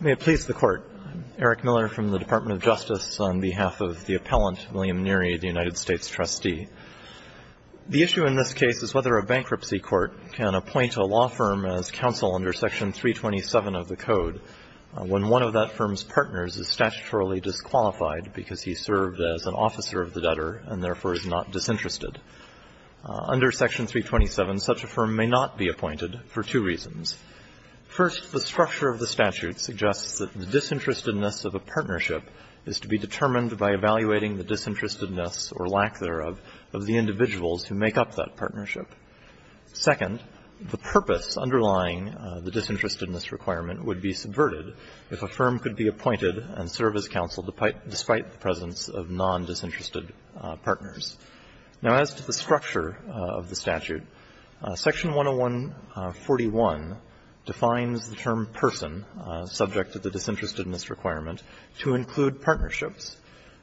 May it please the Court. I am Eric Miller from the Department of Justice on behalf of the Appellant William Neary, the United States Trustee. The issue in this case is whether a bankruptcy court can appoint a law firm as counsel under Section 327 of the Code when one of that firm's partners is statutorily disqualified because he served as an officer of the debtor and therefore is not disinterested. Under Section 327, such a firm may not be appointed for two reasons. First, the structure of the statute suggests that the disinterestedness of a partnership is to be determined by evaluating the disinterestedness, or lack thereof, of the individuals who make up that partnership. Second, the purpose underlying the disinterestedness requirement would be subverted if a firm could be appointed and serve as counsel despite the presence of non-disinterested partners. Now, as to the structure of the statute, Section 10141 defines the term person, subject to the disinterestedness requirement, to include partnerships.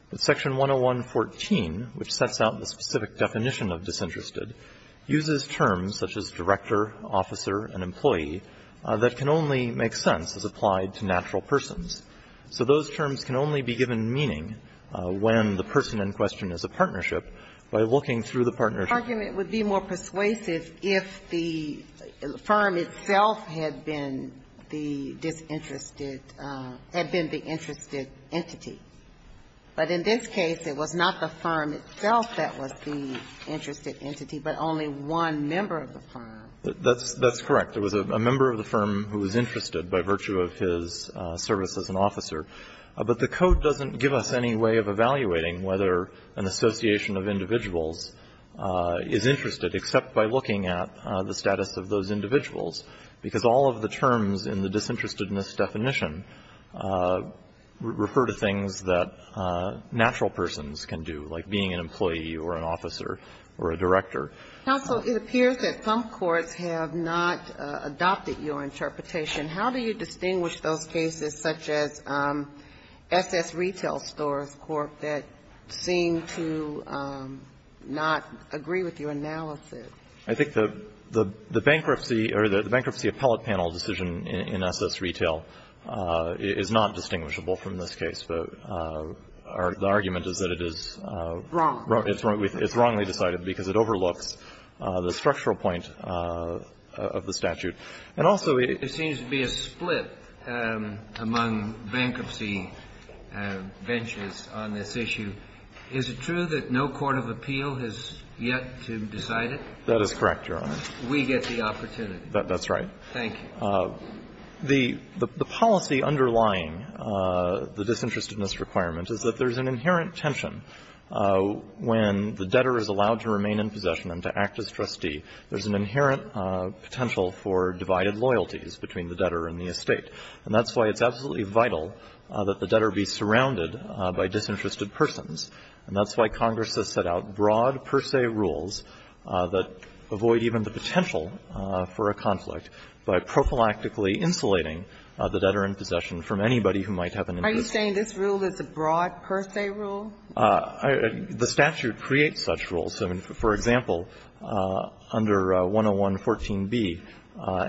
But Section 10114, which sets out the specific definition of disinterested, uses terms such as director, officer, and employee that can only make sense as applied to natural persons. So those terms can only be given meaning when the person in question is a partnership by looking through the partnership. The argument would be more persuasive if the firm itself had been the disinterested or had been the interested entity. But in this case, it was not the firm itself that was the interested entity, but only one member of the firm. That's correct. There was a member of the firm who was interested by virtue of his service as an officer. But the Code doesn't give us any way of evaluating whether an association of individuals is interested except by looking at the status of those individuals, because all of the terms in the disinterestedness definition refer to things that natural persons can do, like being an employee or an officer or a director. Counsel, it appears that some courts have not adopted your interpretation. How do you distinguish those cases such as S.S. Retail Stores Court that seem to not agree with your analysis? I think the bankruptcy or the bankruptcy appellate panel decision in S.S. Retail is not distinguishable from this case. The argument is that it is wrong. It's wrongly decided because it overlooks the structural point of the statute. And also it seems to be a split among bankruptcy benches on this issue. Is it true that no court of appeal has yet to decide it? That is correct, Your Honor. We get the opportunity. That's right. Thank you. The policy underlying the disinterestedness requirement is that there's an inherent tension when the debtor is allowed to remain in possession and to act as trustee, there's an inherent potential for divided loyalties between the debtor and the estate. And that's why it's absolutely vital that the debtor be surrounded by disinterested persons, and that's why Congress has set out broad per se rules that avoid even the potential for a conflict by prophylactically insulating the debtor in possession from anybody who might have an interest. Are you saying this rule is a broad per se rule? The statute creates such rules. For example, under 10114b,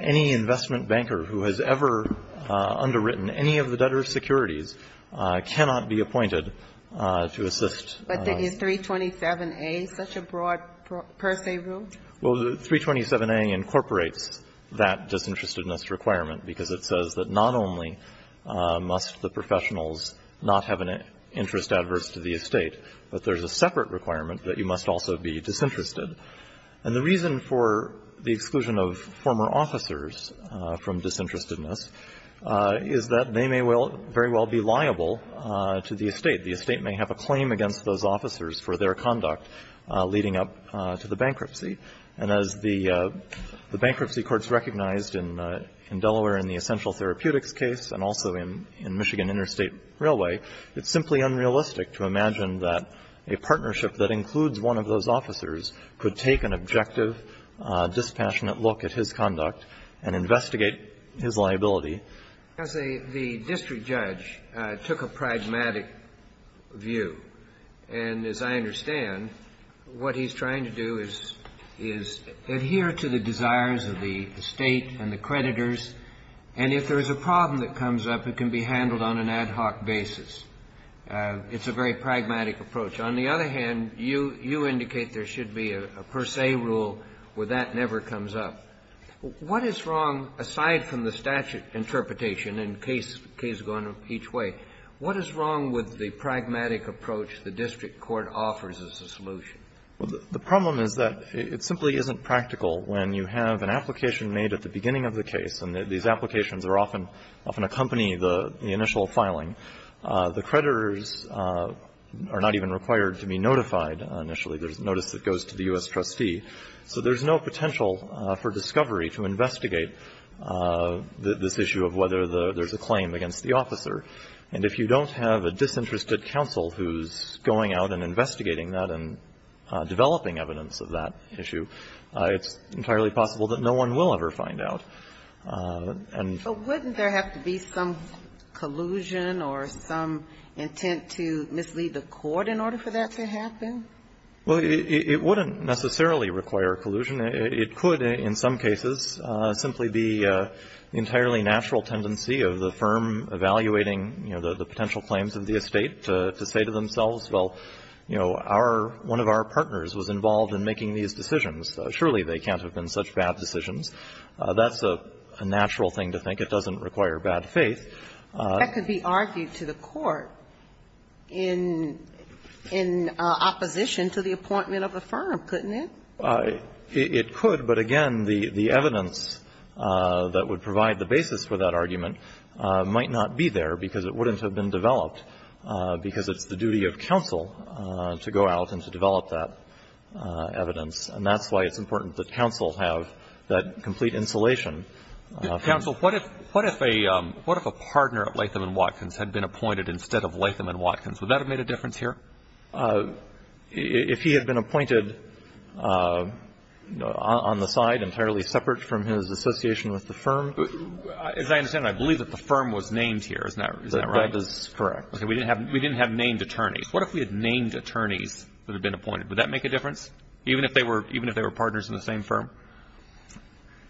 any investment banker who has ever underwritten any of the debtor's securities cannot be appointed to assist. But is 327a such a broad per se rule? Well, 327a incorporates that disinterestedness requirement because it says that not only must the professionals not have an interest adverse to the estate, but there's a separate requirement that you must also be disinterested. And the reason for the exclusion of former officers from disinterestedness is that they may very well be liable to the estate. The estate may have a claim against those officers for their conduct leading up to the bankruptcy. And as the bankruptcy courts recognized in Delaware in the essential therapeutics case and also in Michigan Interstate Railway, it's simply unrealistic to imagine that a partnership that includes one of those officers could take an objective, dispassionate look at his conduct and investigate his liability. As the district judge took a pragmatic view, and as I understand, what he's trying to do is adhere to the desires of the estate and the creditors, and if there is a problem that comes up, it can be handled on an ad hoc basis. It's a very pragmatic approach. On the other hand, you indicate there should be a per se rule where that never comes up. What is wrong, aside from the statute interpretation, and Kay's going each way, what is wrong with the pragmatic approach the district court offers as a solution? Well, the problem is that it simply isn't practical when you have an application made at the beginning of the case, and these applications often accompany the initial filing. The creditors are not even required to be notified initially. There's notice that goes to the U.S. trustee. So there's no potential for discovery to investigate this issue of whether there's a claim against the officer. And if you don't have a disinterested counsel who's going out and investigating that and developing evidence of that issue, it's entirely possible that no one will ever find out. And so wouldn't there have to be some collusion or some intent to mislead the court in order for that to happen? Well, it wouldn't necessarily require collusion. It could, in some cases, simply be an entirely natural tendency of the firm evaluating the potential claims of the estate to say to themselves, well, you know, our one of our partners was involved in making these decisions. Surely they can't have been such bad decisions. That's a natural thing to think. It doesn't require bad faith. That could be argued to the court in opposition to the appointment of a firm, couldn't it? It could, but again, the evidence that would provide the basis for that argument might not be there because it wouldn't have been developed because it's the duty of counsel to go out and to develop that evidence. And that's why it's important that counsel have that complete insulation. Counsel, what if a partner at Latham & Watkins had been appointed instead of Latham & Watkins? Would that have made a difference here? If he had been appointed on the side entirely separate from his association with the firm? As I understand it, I believe that the firm was named here, isn't that right? That is correct. We didn't have named attorneys. What if we had named attorneys that had been appointed? Would that make a difference, even if they were partners in the same firm?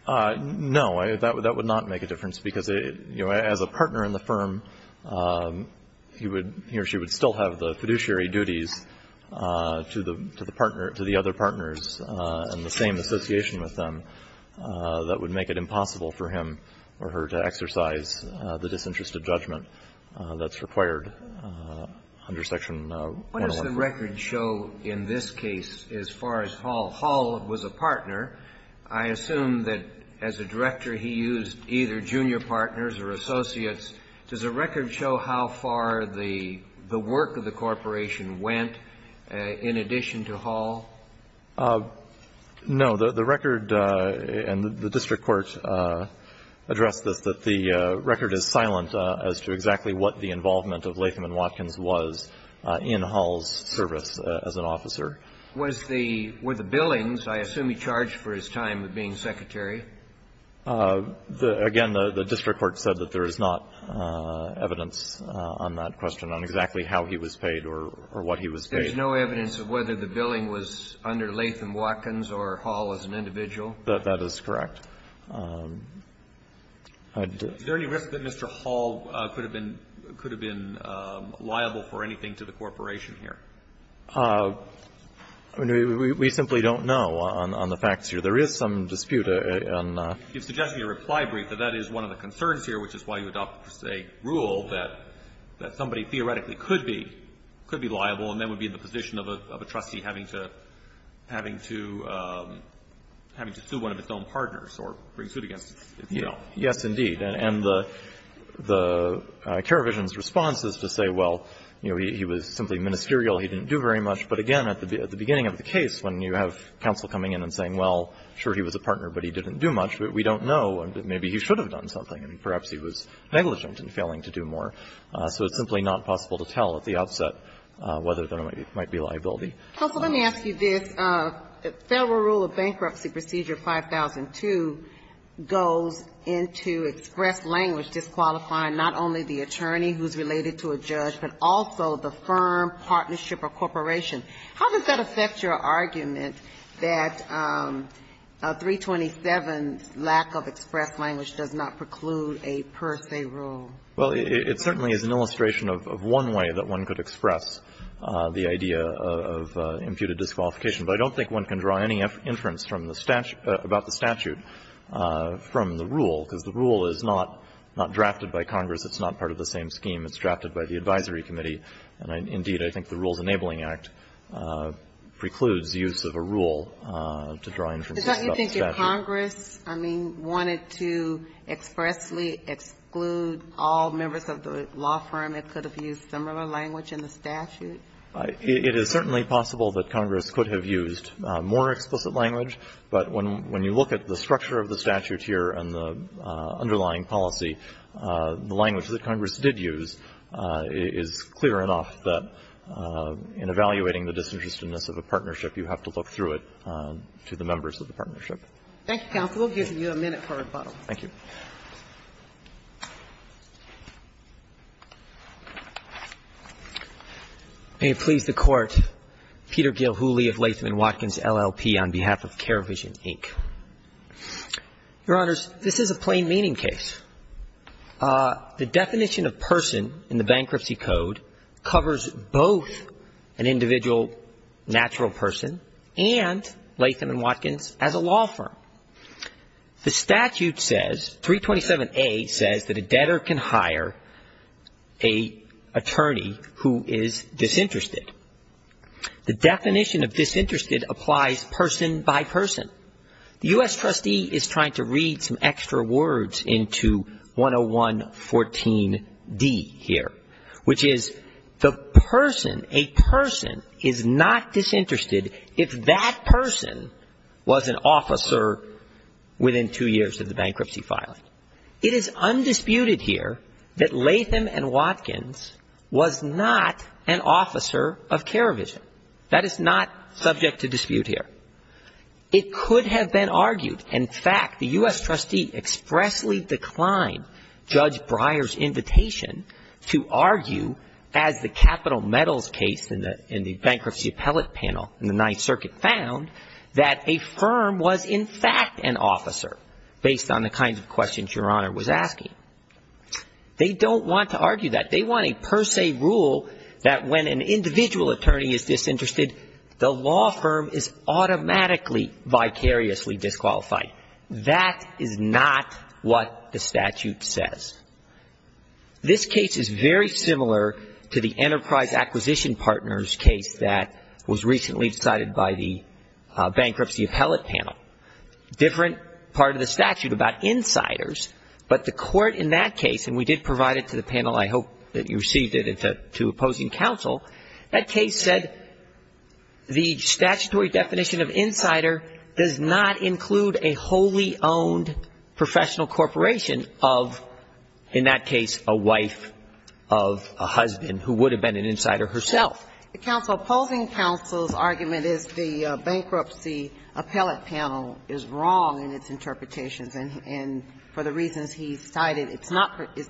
No, that would not make a difference because as a partner in the firm, he or she would still have the fiduciary duties to the other partners in the same association with them. That would make it impossible for him or her to exercise the disinterest of judgment that's required under Section 111. What does the record show in this case as far as Hall? Hall was a partner. I assume that as a director, he used either junior partners or associates. Does the record show how far the work of the corporation went in addition to Hall? No. The record and the district court addressed this, that the record is silent as to exactly what the involvement of Latham and Watkins was in Hall's service as an officer. Was the – were the billings, I assume he charged for his time of being secretary? Again, the district court said that there is not evidence on that question on exactly how he was paid or what he was paid. There's no evidence of whether the billing was under Latham-Watkins or Hall as an individual? That is correct. Is there any risk that Mr. Hall could have been liable for anything to the corporation here? I mean, we simply don't know on the facts here. There is some dispute on that. You're suggesting a reply brief, but that is one of the concerns here, which is why you adopt a rule that somebody theoretically could be liable and then would be in the position of a trustee having to – having to – having to sue one of its own partners or bring suit against its bill. Yes, indeed. And the – the – Kerevision's response is to say, well, you know, he was simply ministerial. He didn't do very much. But again, at the beginning of the case, when you have counsel coming in and saying, well, sure, he was a partner, but he didn't do much, we don't know. Maybe he should have done something, and perhaps he was negligent in failing to do more. So it's simply not possible to tell at the outset whether there might be liability. Counsel, let me ask you this. Federal rule of bankruptcy procedure 5002 goes into express language disqualifying not only the attorney who is related to a judge, but also the firm, partnership or corporation. How does that affect your argument that 327's lack of express language does not preclude a per se rule? Well, it certainly is an illustration of one way that one could express the idea of imputed disqualification. But I don't think one can draw any inference from the statute – about the statute from the rule, because the rule is not – not drafted by Congress. It's not part of the same scheme. It's drafted by the advisory committee. And, indeed, I think the Rules Enabling Act precludes use of a rule to draw inferences about statute. But don't you think if Congress, I mean, wanted to expressly exclude all members of the law firm, it could have used similar language in the statute? It is certainly possible that Congress could have used more explicit language. But when you look at the structure of the statute here and the underlying policy, the language that Congress did use is clear enough that in evaluating the disinterestedness of a partnership, you have to look through it to the members of the partnership. Thank you, counsel. We'll give you a minute for rebuttal. Thank you. May it please the Court. Peter Gilhooly of Latham & Watkins, LLP, on behalf of Carevision, Inc. Your Honors, this is a plain meaning case. The definition of person in the Bankruptcy Code covers both an individual natural person and, Latham & Watkins, as a law firm. The statute says, 327A says that a debtor can hire an attorney who is disinterested. The definition of disinterested applies person by person. The U.S. trustee is trying to read some extra words into 10114D here, which is the person, a person is not disinterested if that person was an officer within two years of the bankruptcy filing. It is undisputed here that Latham & Watkins was not an officer of Carevision. That is not subject to dispute here. It could have been argued, in fact, the U.S. trustee expressly declined Judge Breyer's invitation to argue, as the capital medals case in the bankruptcy appellate panel in the Ninth Circuit found, that a firm was in fact an officer, based on the kinds of questions Your Honor was asking. They don't want to argue that. They want a per se rule that when an individual attorney is disinterested, the law firm is automatically vicariously disqualified. That is not what the statute says. This case is very similar to the Enterprise Acquisition Partners case that was recently decided by the bankruptcy appellate panel. Different part of the statute about insiders, but the court in that case, and we did provide it to the panel, I hope that you received it, to opposing counsel. That case said the statutory definition of insider does not include a wholly-owned professional corporation of, in that case, a wife of a husband who would have been an insider herself. The opposing counsel's argument is the bankruptcy appellate panel is wrong in its interpretations, and for the reasons he cited, it's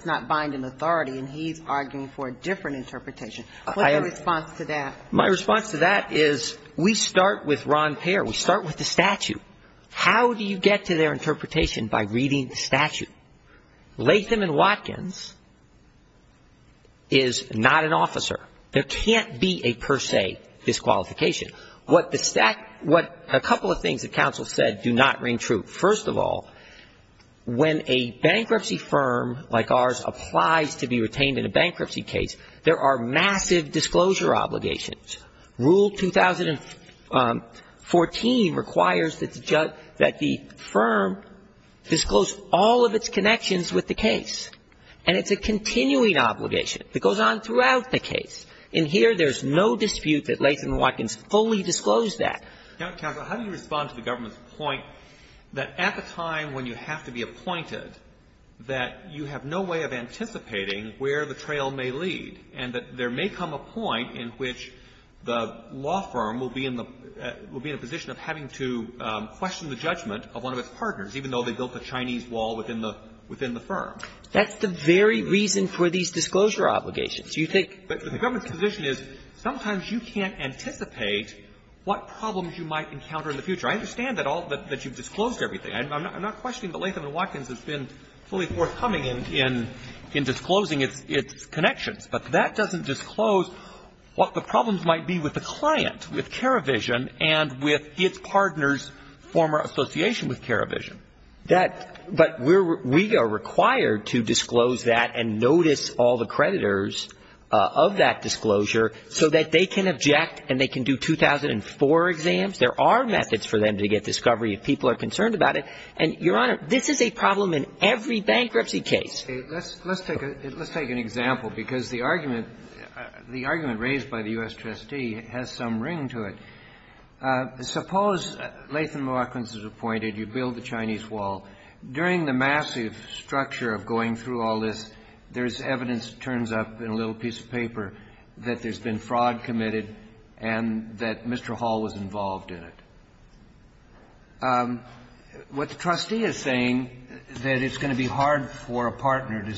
not binding authority, and he's arguing for a different interpretation. What's your response to that? My response to that is we start with Ron Payer. We start with the statute. How do you get to their interpretation by reading the statute? Latham and Watkins is not an officer. There can't be a per se disqualification. What the statute, what a couple of things that counsel said do not ring true. First of all, when a bankruptcy firm like ours applies to be retained in a bankruptcy case, there are massive disclosure obligations. Rule 2014 requires that the firm disclose all of its connections with the case, and it's a continuing obligation that goes on throughout the case. In here, there's no dispute that Latham and Watkins fully disclosed that. Counsel, how do you respond to the government's point that at the time when you have to be appointed, that you have no way of anticipating where the trail may lead, and that there may come a point in which the law firm will be in the – will be in a position of having to question the judgment of one of its partners, even though they built a Chinese wall within the firm? That's the very reason for these disclosure obligations. You think the government's position is sometimes you can't anticipate what problems you might encounter in the future. I understand that all – that you've disclosed everything. I'm not questioning that Latham and Watkins has been fully forthcoming in disclosing its connections, but that doesn't disclose what the problems might be with the client, with Caravision, and with its partners' former association with Caravision. That – but we are required to disclose that and notice all the creditors of that disclosure so that they can object and they can do 2004 exams. There are methods for them to get discovery if people are concerned about it. And, Your Honor, this is a problem in every bankruptcy case. Let's take a – let's take an example, because the argument – the argument raised by the U.S. trustee has some ring to it. Suppose Latham and Watkins is appointed. You build the Chinese wall. During the massive structure of going through all this, there's evidence, it turns up in a little piece of paper, that there's been fraud committed and that Mr. Hall was involved in it. What the trustee is saying, that it's going to be hard for a partner to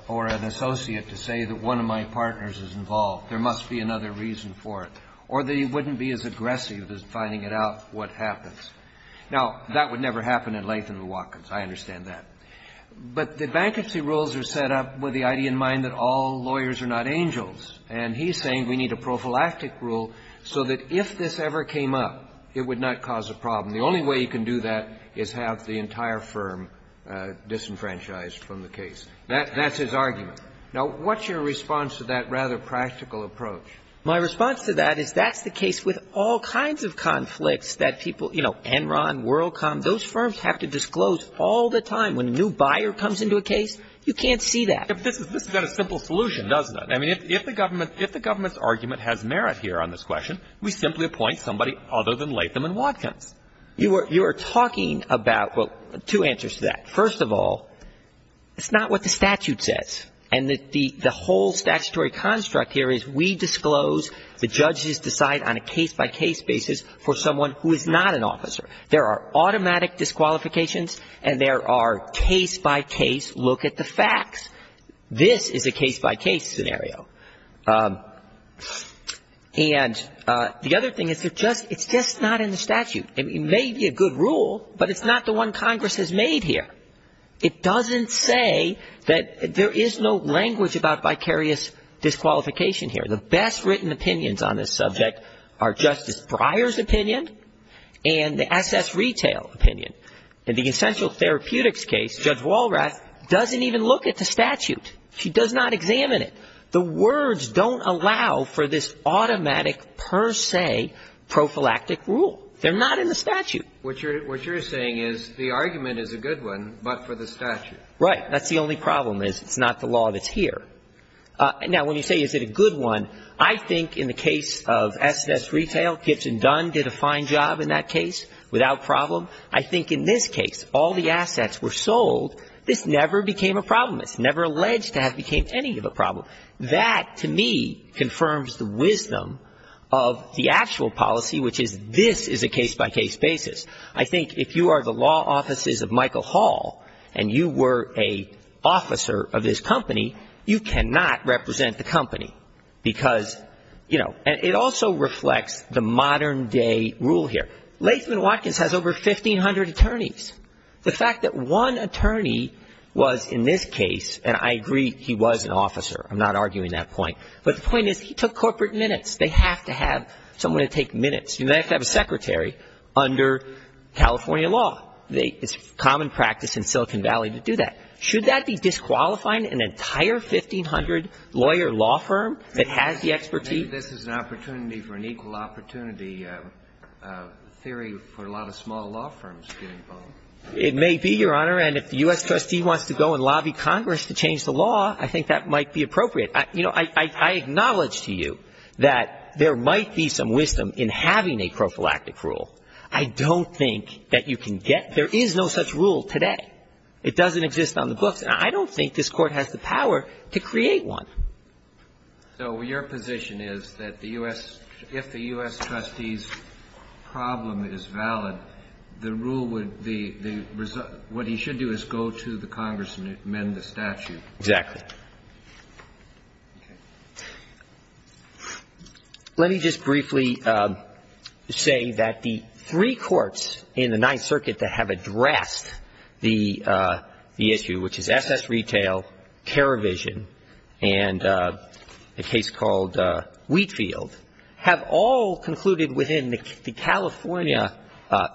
– or an associate to say that one of my partners is involved. There must be another reason for it. Or they wouldn't be as aggressive as finding out what happens. Now, that would never happen in Latham and Watkins. I understand that. But the bankruptcy rules are set up with the idea in mind that all lawyers are not angels. And he's saying we need a prophylactic rule so that if this ever came up, it would not cause a problem. The only way you can do that is have the entire firm disenfranchised from the case. That's his argument. Now, what's your response to that rather practical approach? My response to that is that's the case with all kinds of conflicts that people – you know, Enron, WorldCom. Those firms have to disclose all the time. When a new buyer comes into a case, you can't see that. This is not a simple solution, does it? I mean, if the government's argument has merit here on this question, we simply appoint somebody other than Latham and Watkins. You are talking about – well, two answers to that. First of all, it's not what the statute says. And the whole statutory construct here is we disclose, the judges decide on a case-by-case basis for someone who is not an officer. There are automatic disqualifications, and there are case-by-case look-at-the-facts. This is a case-by-case scenario. And the other thing is it's just not in the statute. It may be a good rule, but it's not the one Congress has made here. It doesn't say that – there is no language about vicarious disqualification here. The best written opinions on this subject are Justice Breyer's opinion and the S.S. Retail opinion. In the essential therapeutics case, Judge Walrath doesn't even look at the statute. She does not examine it. The words don't allow for this automatic per se prophylactic rule. They're not in the statute. What you're saying is the argument is a good one, but for the statute. Right. That's the only problem is it's not the law that's here. Now when you say is it a good one, I think in the case of S.S. Retail, Gibson Dunn did a fine job in that case without problem. I think in this case, all the assets were sold. This never became a problem. It's never alleged to have became any of a problem. That to me confirms the wisdom of the actual policy, which is this is a case-by-case basis. I think if you are the law offices of Michael Hall and you were an officer of his company, you cannot represent the company because, you know, it also reflects the modern-day rule here. Latham Watkins has over 1,500 attorneys. The fact that one attorney was in this case, and I agree he was an officer, I'm not arguing that point, but the point is he took corporate minutes. They have to have someone to take minutes. You may have to have a secretary under California law. It's common practice in Silicon Valley to do that. Should that be disqualifying an entire 1,500-lawyer law firm that has the expertise? This is an opportunity for an equal opportunity theory for a lot of small law firms getting involved. It may be, Your Honor, and if the U.S. trustee wants to go and lobby Congress to change the law, I think that might be appropriate. You know, I acknowledge to you that there might be some wisdom in having a prophylactic rule. I don't think that you can get – there is no such rule today. It doesn't exist on the books, and I don't think this Court has the power to create one. So your position is that the U.S. – if the U.S. trustee's problem is valid, the rule would be – what he should do is go to the Congress and amend the statute? Exactly. Okay. Let me just briefly say that the three courts in the Ninth Circuit that have addressed the issue, which is S.S. Retail, Keravision, and a case called Wheatfield, have all concluded within the California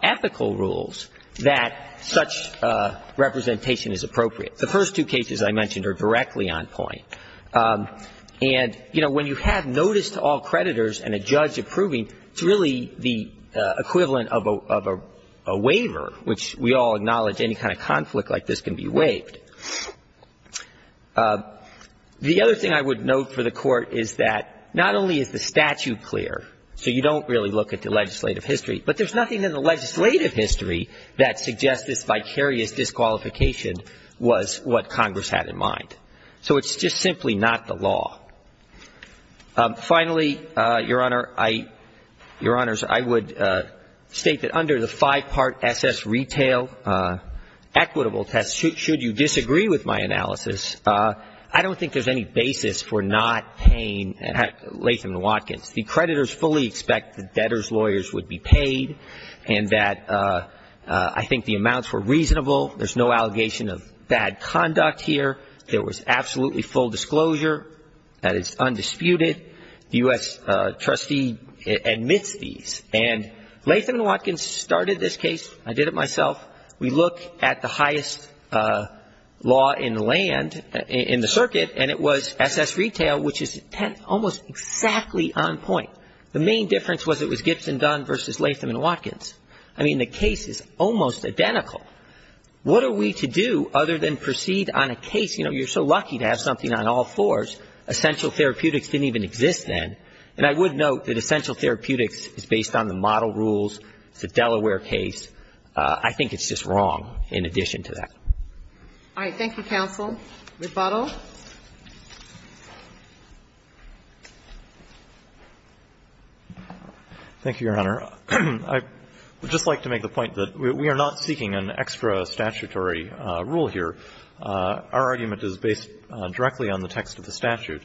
ethical rules that such representation is appropriate. The first two cases I mentioned are directly on point, and, you know, when you have notice to all creditors and a judge approving, it's really the equivalent of a waiver, which we all acknowledge any kind of conflict like this can be waived. The other thing I would note for the Court is that not only is the statute clear, so you don't really look at the legislative history, but there's nothing in the legislative history that suggests this vicarious disqualification was what Congress had in mind. So it's just simply not the law. Finally, Your Honor, I – Your Honors, I would state that under the five-part S.S. Retail equitable test, should you disagree with my analysis, I don't think there's any basis for not paying Latham and Watkins. The creditors fully expect the debtors' lawyers would be paid and that I think the amounts were reasonable, there's no allegation of bad conduct here, there was absolutely full disclosure, that it's undisputed, the U.S. trustee admits these, and Latham and Watkins started this case, I did it myself, we look at the highest law in the land, in the circuit, and it was S.S. Retail, which is almost exactly on point. The main difference was it was Gibson-Dunn versus Latham and Watkins. I mean, the case is almost identical. What are we to do other than proceed on a case, you know, you're so lucky to have something on all fours, essential therapeutics didn't even exist then, and I would note that essential therapeutics is based on the model rules, it's a Delaware case, I think it's just wrong in addition to that. All right. Thank you, counsel. Rebuttal. Thank you, Your Honor. I would just like to make the point that we are not seeking an extra statutory rule here. Our argument is based directly on the text of the statute,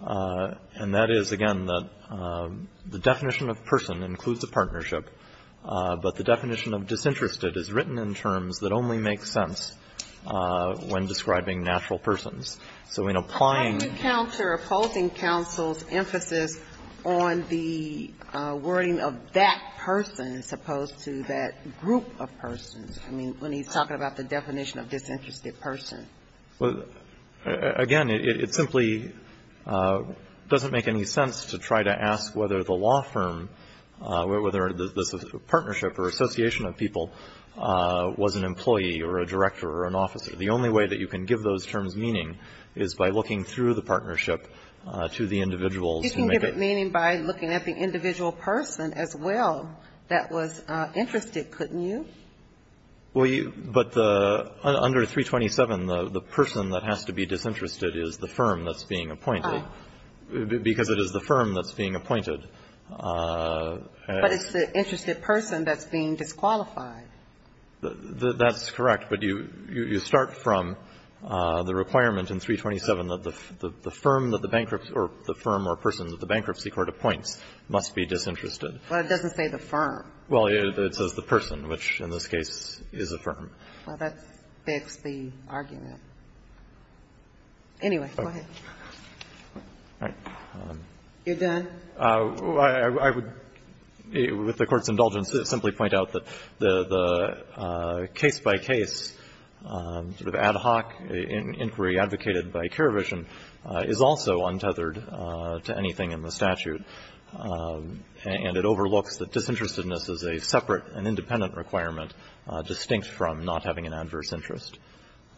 and that is, again, that the definition of person includes a partnership, but the definition of disinterested is written in terms that only make sense when describing natural persons. sense when describing natural persons. That person, as opposed to that group of persons, I mean, when he's talking about the definition of disinterested person. Well, again, it simply doesn't make any sense to try to ask whether the law firm, whether this partnership or association of people was an employee or a director or an officer. The only way that you can give those terms meaning is by looking through the partnership to the individuals who make it. Meaning by looking at the individual person as well that was interested, couldn't you? Well, but under 327, the person that has to be disinterested is the firm that's being appointed, because it is the firm that's being appointed. But it's the interested person that's being disqualified. That's correct, but you start from the requirement in 327 that the firm that the must be disinterested. Well, it doesn't say the firm. Well, it says the person, which in this case is a firm. Well, that begs the argument. Anyway, go ahead. You're done? I would, with the Court's indulgence, simply point out that the case-by-case sort of ad hoc inquiry advocated by Keravish and is also untethered to anything in the statute, and it overlooks that disinterestedness is a separate and independent requirement distinct from not having an adverse interest.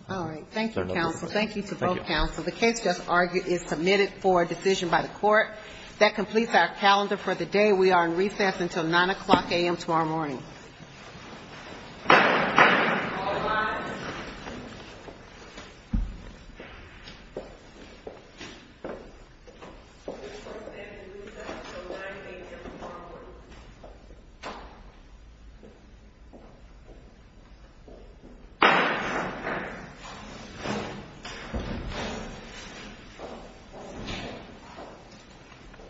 All right. Thank you, counsel. Thank you to both counsel. The case just argued is submitted for decision by the Court. That completes our calendar for the day. We are in recess until 9 o'clock a.m. tomorrow morning. All rise. The Court is in recess until 9 a.m. tomorrow morning.